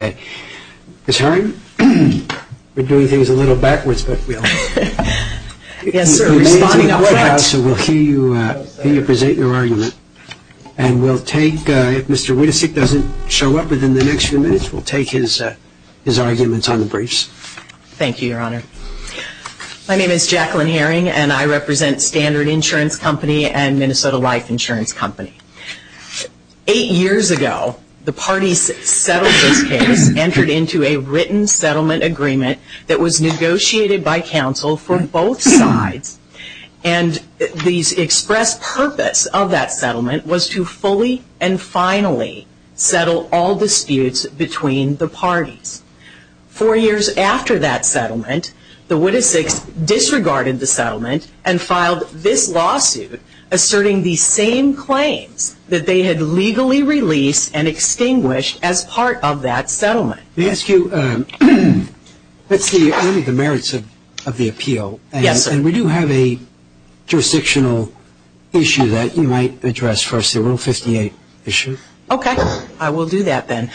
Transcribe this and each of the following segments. Ms. Herring, we're doing things a little backwards, but we'll... Yes, sir, responding up front. We'll hear you present your argument. And we'll take, if Mr. Witasick doesn't show up within the next few minutes, we'll take his arguments on the briefs. Thank you, Your Honor. My name is Jacqueline Herring, and I represent Standard Insurance Company and Minnesota Life Insurance Company. Eight years ago, the parties that settled this case entered into a written settlement agreement that was negotiated by counsel for both sides. And the expressed purpose of that settlement was to fully and finally settle all disputes between the parties. Four years after that settlement, the Witasicks disregarded the settlement and filed this lawsuit asserting the same claims that they had legally released and extinguished as part of that settlement. Let me ask you, what's the merits of the appeal? Yes, sir. And we do have a jurisdictional issue that you might address first, the Rule 58 issue. Okay, I will do that then.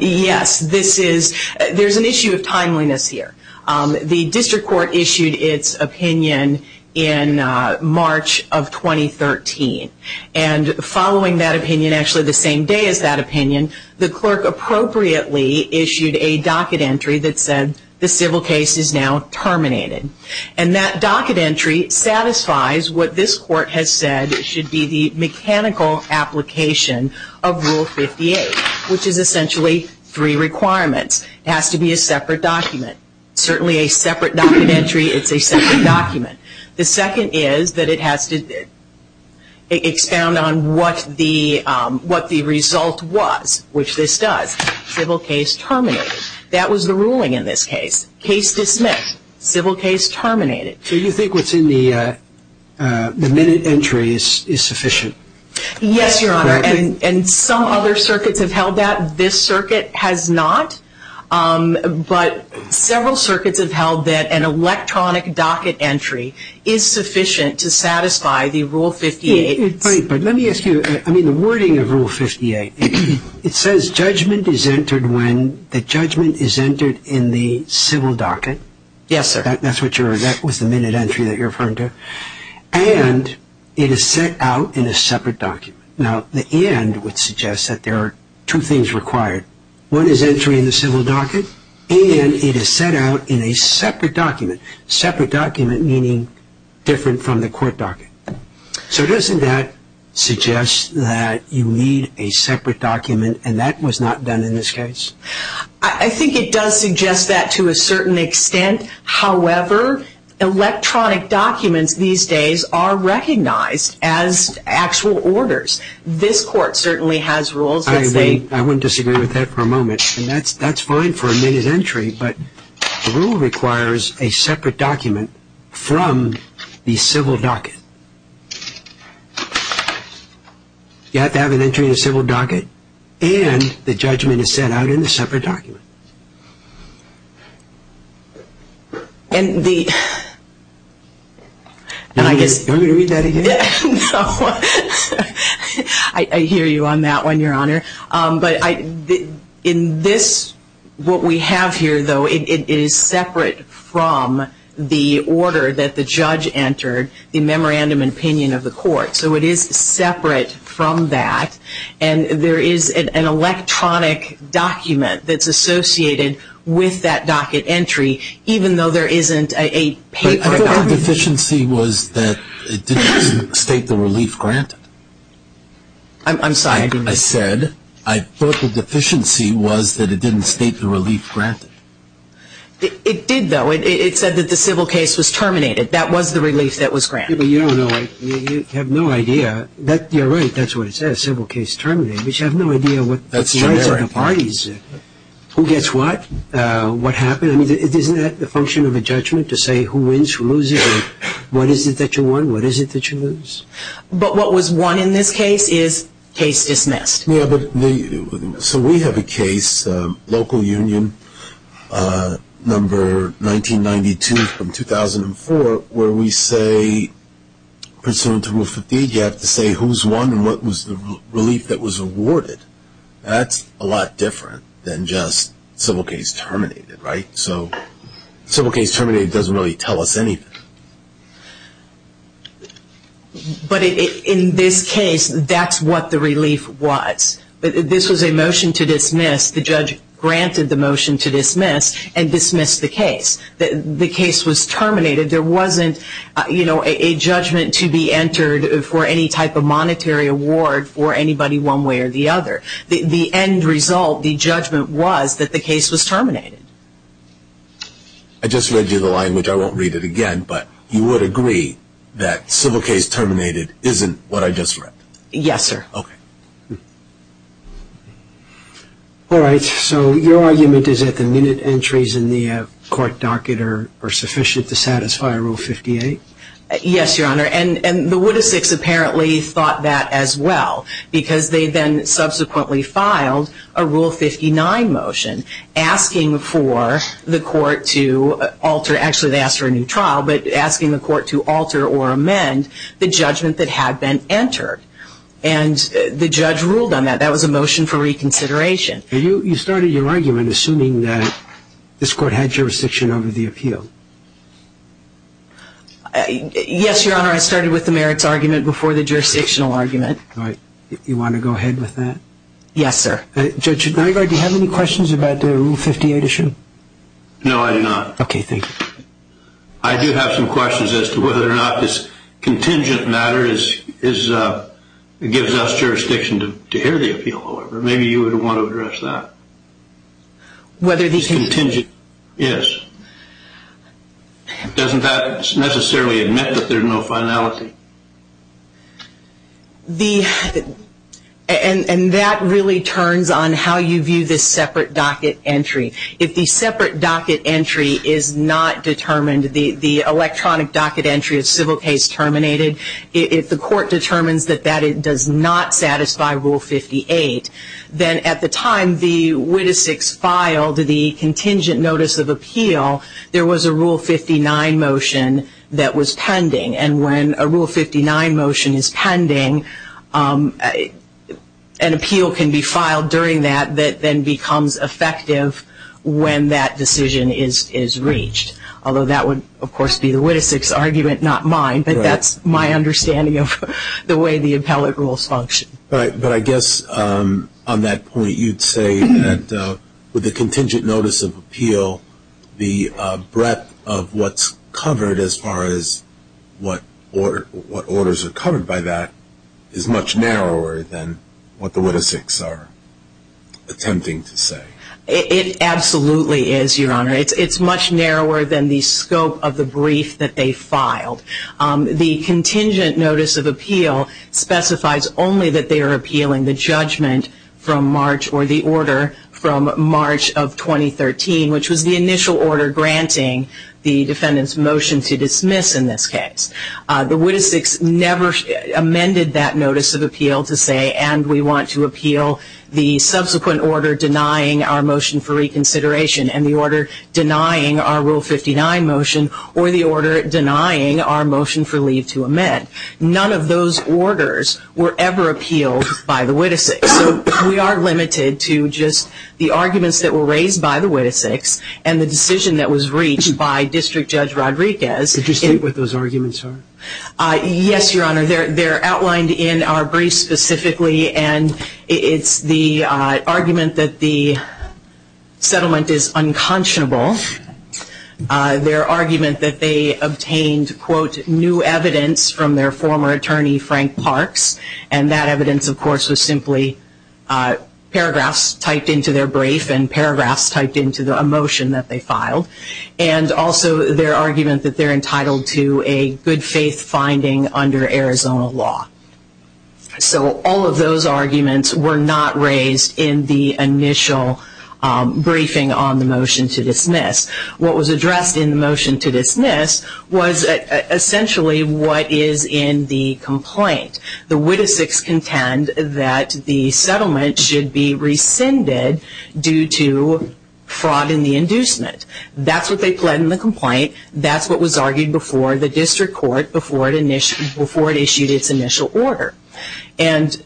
Yes, this is, there's an issue of timeliness here. The district court issued its opinion in March of 2013. And following that opinion, actually the same day as that opinion, the clerk appropriately issued a docket entry that said, the civil case is now terminated. And that docket entry satisfies what this court has said should be the mechanical application of Rule 58, which is essentially three requirements. It has to be a separate document. Certainly a separate docket entry, it's a separate document. The second is that it has to expound on what the result was, which this does. Civil case terminated. That was the ruling in this case. Case dismissed. Civil case terminated. So you think what's in the minute entry is sufficient? Yes, Your Honor. And some other circuits have held that. This circuit has not. But several circuits have held that an electronic docket entry is sufficient to satisfy the Rule 58. But let me ask you, I mean, the wording of Rule 58, it says judgment is entered when the judgment is entered in the civil docket. Yes, sir. That's what you're, that was the minute entry that you're referring to. And it is set out in a separate document. Now, the and would suggest that there are two things required. One is entering the civil docket, and it is set out in a separate document. Separate document meaning different from the court docket. So doesn't that suggest that you need a separate document, and that was not done in this case? I think it does suggest that to a certain extent. However, electronic documents these days are recognized as actual orders. This court certainly has rules that say. I wouldn't disagree with that for a moment. And that's fine for a minute entry, but the rule requires a separate document from the civil docket. You have to have an entry in the civil docket, and the judgment is set out in a separate document. And the, and I guess. Do you want me to read that again? No. I hear you on that one, Your Honor. But in this, what we have here, though, it is separate from the order that the judge entered, the memorandum and opinion of the court. So it is separate from that. And there is an electronic document that's associated with that docket entry, even though there isn't a paper document. But I thought the deficiency was that it didn't state the relief granted. I'm sorry. I said I thought the deficiency was that it didn't state the relief granted. It did, though. It said that the civil case was terminated. That was the relief that was granted. You don't know. You have no idea. You're right. That's what it says, civil case terminated. But you have no idea what the rights of the parties, who gets what, what happened. I mean, isn't that the function of a judgment to say who wins, who loses? What is it that you won? What is it that you lose? But what was won in this case is case dismissed. So we have a case, local union, number 1992 from 2004, where we say, pursuant to Rule 50, you have to say who's won and what was the relief that was awarded. That's a lot different than just civil case terminated, right? So civil case terminated doesn't really tell us anything. But in this case, that's what the relief was. This was a motion to dismiss. The judge granted the motion to dismiss and dismissed the case. The case was terminated. There wasn't, you know, a judgment to be entered for any type of monetary award for anybody one way or the other. The end result, the judgment was that the case was terminated. I just read you the line, which I won't read it again, but you would agree that civil case terminated isn't what I just read? Yes, sir. Okay. All right, so your argument is that the minute entries in the court docket are sufficient to satisfy Rule 58? Yes, Your Honor, and the Woodis 6 apparently thought that as well because they then subsequently filed a Rule 59 motion asking for the court to alter. Actually, they asked for a new trial, but asking the court to alter or amend the judgment that had been entered. And the judge ruled on that. That was a motion for reconsideration. You started your argument assuming that this court had jurisdiction over the appeal. Yes, Your Honor, I started with the merits argument before the jurisdictional argument. All right. You want to go ahead with that? Yes, sir. Judge Schneider, do you have any questions about the Rule 58 issue? No, I do not. Okay, thank you. I do have some questions as to whether or not this contingent matter gives us jurisdiction to hear the appeal. Maybe you would want to address that. This contingent? Yes. Doesn't that necessarily admit that there's no finality? And that really turns on how you view this separate docket entry. If the separate docket entry is not determined, the electronic docket entry of civil case terminated, if the court determines that that does not satisfy Rule 58, then at the time the witticics filed the contingent notice of appeal, there was a Rule 59 motion that was pending. And when a Rule 59 motion is pending, an appeal can be filed during that that then becomes effective when that decision is reached. Although that would, of course, be the witticics argument, not mine. But that's my understanding of the way the appellate rules function. But I guess on that point you'd say that with the contingent notice of appeal, the breadth of what's covered as far as what orders are covered by that is much narrower than what the witticics are attempting to say. It absolutely is, Your Honor. It's much narrower than the scope of the brief that they filed. The contingent notice of appeal specifies only that they are appealing the judgment from March or the order from March of 2013, which was the initial order granting the defendant's motion to dismiss in this case. The witticics never amended that notice of appeal to say, and we want to appeal the subsequent order denying our motion for reconsideration and the order denying our Rule 59 motion or the order denying our motion for leave to amend. None of those orders were ever appealed by the witticics. So we are limited to just the arguments that were raised by the witticics and the decision that was reached by District Judge Rodriguez. Did you state what those arguments are? Yes, Your Honor. They're outlined in our brief specifically, and it's the argument that the settlement is unconscionable, their argument that they obtained, quote, new evidence from their former attorney, Frank Parks, and that evidence, of course, was simply paragraphs typed into their brief and paragraphs typed into a motion that they filed, and also their argument that they're entitled to a good faith finding under Arizona law. So all of those arguments were not raised in the initial briefing on the motion to dismiss. What was addressed in the motion to dismiss was essentially what is in the complaint. The witticics contend that the settlement should be rescinded due to fraud in the inducement. That's what they pled in the complaint. That's what was argued before the district court before it issued its initial order. And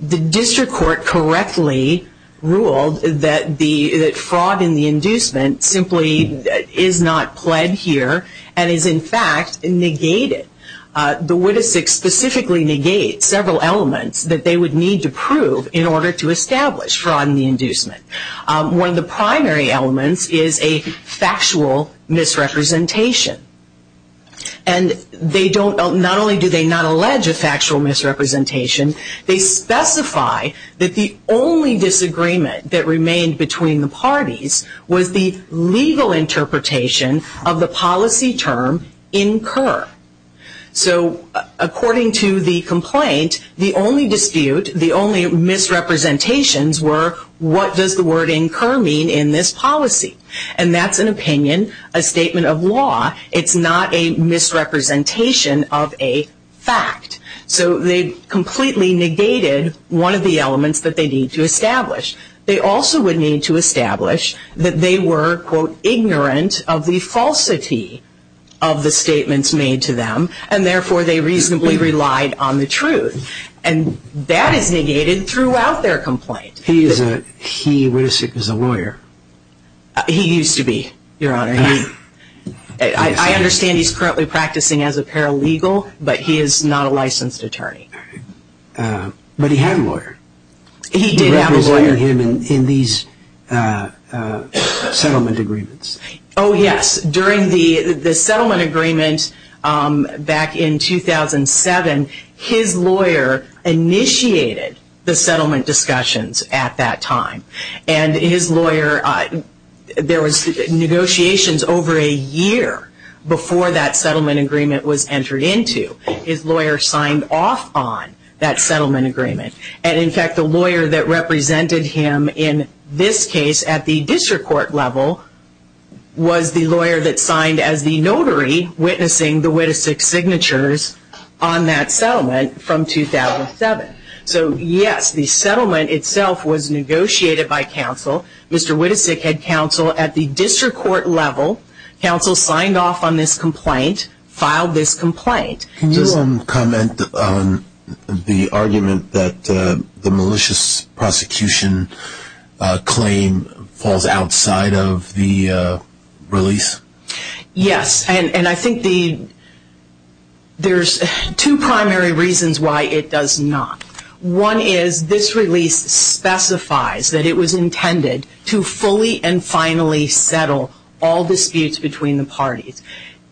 the district court correctly ruled that fraud in the inducement simply is not pled here and is, in fact, negated. The witticics specifically negate several elements that they would need to prove in order to establish fraud in the inducement. One of the primary elements is a factual misrepresentation. And they don't, not only do they not allege a factual misrepresentation, they specify that the only disagreement that remained between the parties was the legal interpretation of the policy term incur. So according to the complaint, the only dispute, the only misrepresentations were, what does the word incur mean in this policy? And that's an opinion, a statement of law. It's not a misrepresentation of a fact. So they completely negated one of the elements that they need to establish. They also would need to establish that they were, quote, ignorant of the falsity of the statements made to them, and therefore they reasonably relied on the truth. And that is negated throughout their complaint. He is a lawyer. He used to be, Your Honor. I understand he's currently practicing as a paralegal, but he is not a licensed attorney. But he had a lawyer. He did have a lawyer. You represent him in these settlement agreements. Oh, yes. During the settlement agreement back in 2007, his lawyer initiated the settlement discussions at that time. And his lawyer, there was negotiations over a year before that settlement agreement was entered into. His lawyer signed off on that settlement agreement. And, in fact, the lawyer that represented him in this case at the district court level was the lawyer that signed as the notary witnessing the Wittesick signatures on that settlement from 2007. So, yes, the settlement itself was negotiated by counsel. Mr. Wittesick had counsel at the district court level. Counsel signed off on this complaint, filed this complaint. Can you comment on the argument that the malicious prosecution claim falls outside of the release? Yes. And I think there's two primary reasons why it does not. One is this release specifies that it was intended to fully and finally settle all disputes between the parties.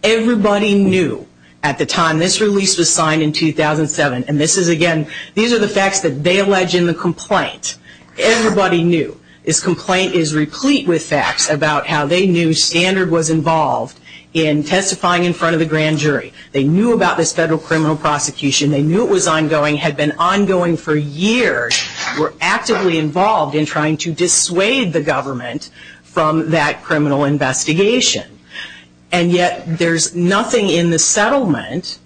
Everybody knew at the time this release was signed in 2007, and this is, again, these are the facts that they allege in the complaint. Everybody knew. This complaint is replete with facts about how they knew Standard was involved in testifying in front of the grand jury. They knew about this federal criminal prosecution. They knew it was ongoing, had been ongoing for years, were actively involved in trying to dissuade the government from that criminal investigation. And yet there's nothing in the settlement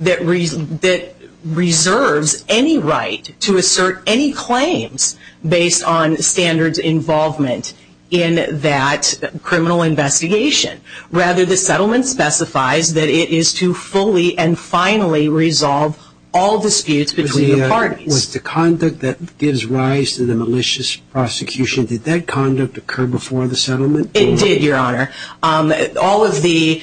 that reserves any right to assert any claims based on Standard's involvement in that criminal investigation. Rather, the settlement specifies that it is to fully and finally resolve all disputes between the parties. Was the conduct that gives rise to the malicious prosecution, did that conduct occur before the settlement? It did, Your Honor. All of the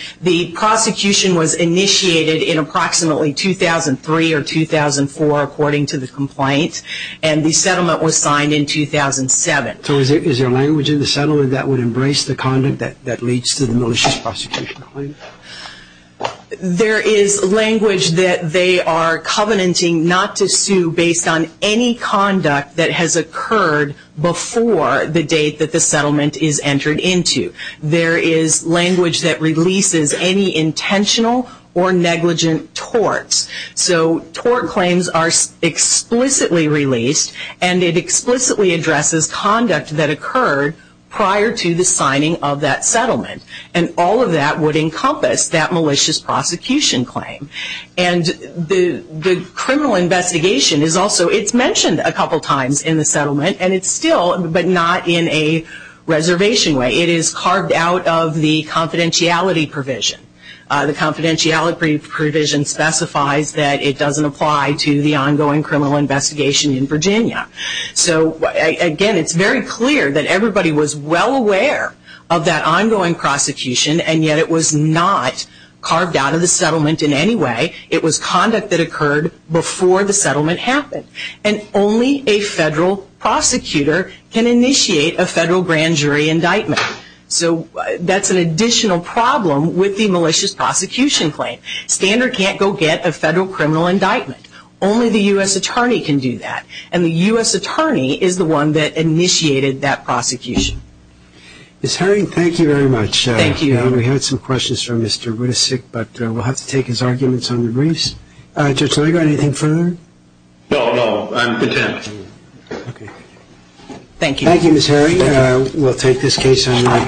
prosecution was initiated in approximately 2003 or 2004, according to the complaint, and the settlement was signed in 2007. So is there language in the settlement that would embrace the conduct that leads to the malicious prosecution? There is language that they are covenanting not to sue based on any conduct that has occurred before the date that the settlement is entered into. There is language that releases any intentional or negligent torts. So tort claims are explicitly released, and it explicitly addresses conduct that occurred prior to the signing of that settlement. And all of that would encompass that malicious prosecution claim. And the criminal investigation is also, it's mentioned a couple times in the settlement, and it's still, but not in a reservation way. It is carved out of the confidentiality provision. The confidentiality provision specifies that it doesn't apply to the ongoing criminal investigation in Virginia. So again, it's very clear that everybody was well aware of that ongoing prosecution, and yet it was not carved out of the settlement in any way. It was conduct that occurred before the settlement happened. And only a federal prosecutor can initiate a federal grand jury indictment. So that's an additional problem with the malicious prosecution claim. Standard can't go get a federal criminal indictment. Only the U.S. attorney can do that. And the U.S. attorney is the one that initiated that prosecution. Ms. Herring, thank you very much. Thank you. We had some questions from Mr. Wittesik, but we'll have to take his arguments on the briefs. Judge Leger, anything further? No, no. I'm content. Okay. Thank you. Thank you, Ms. Herring. We'll take this case on record.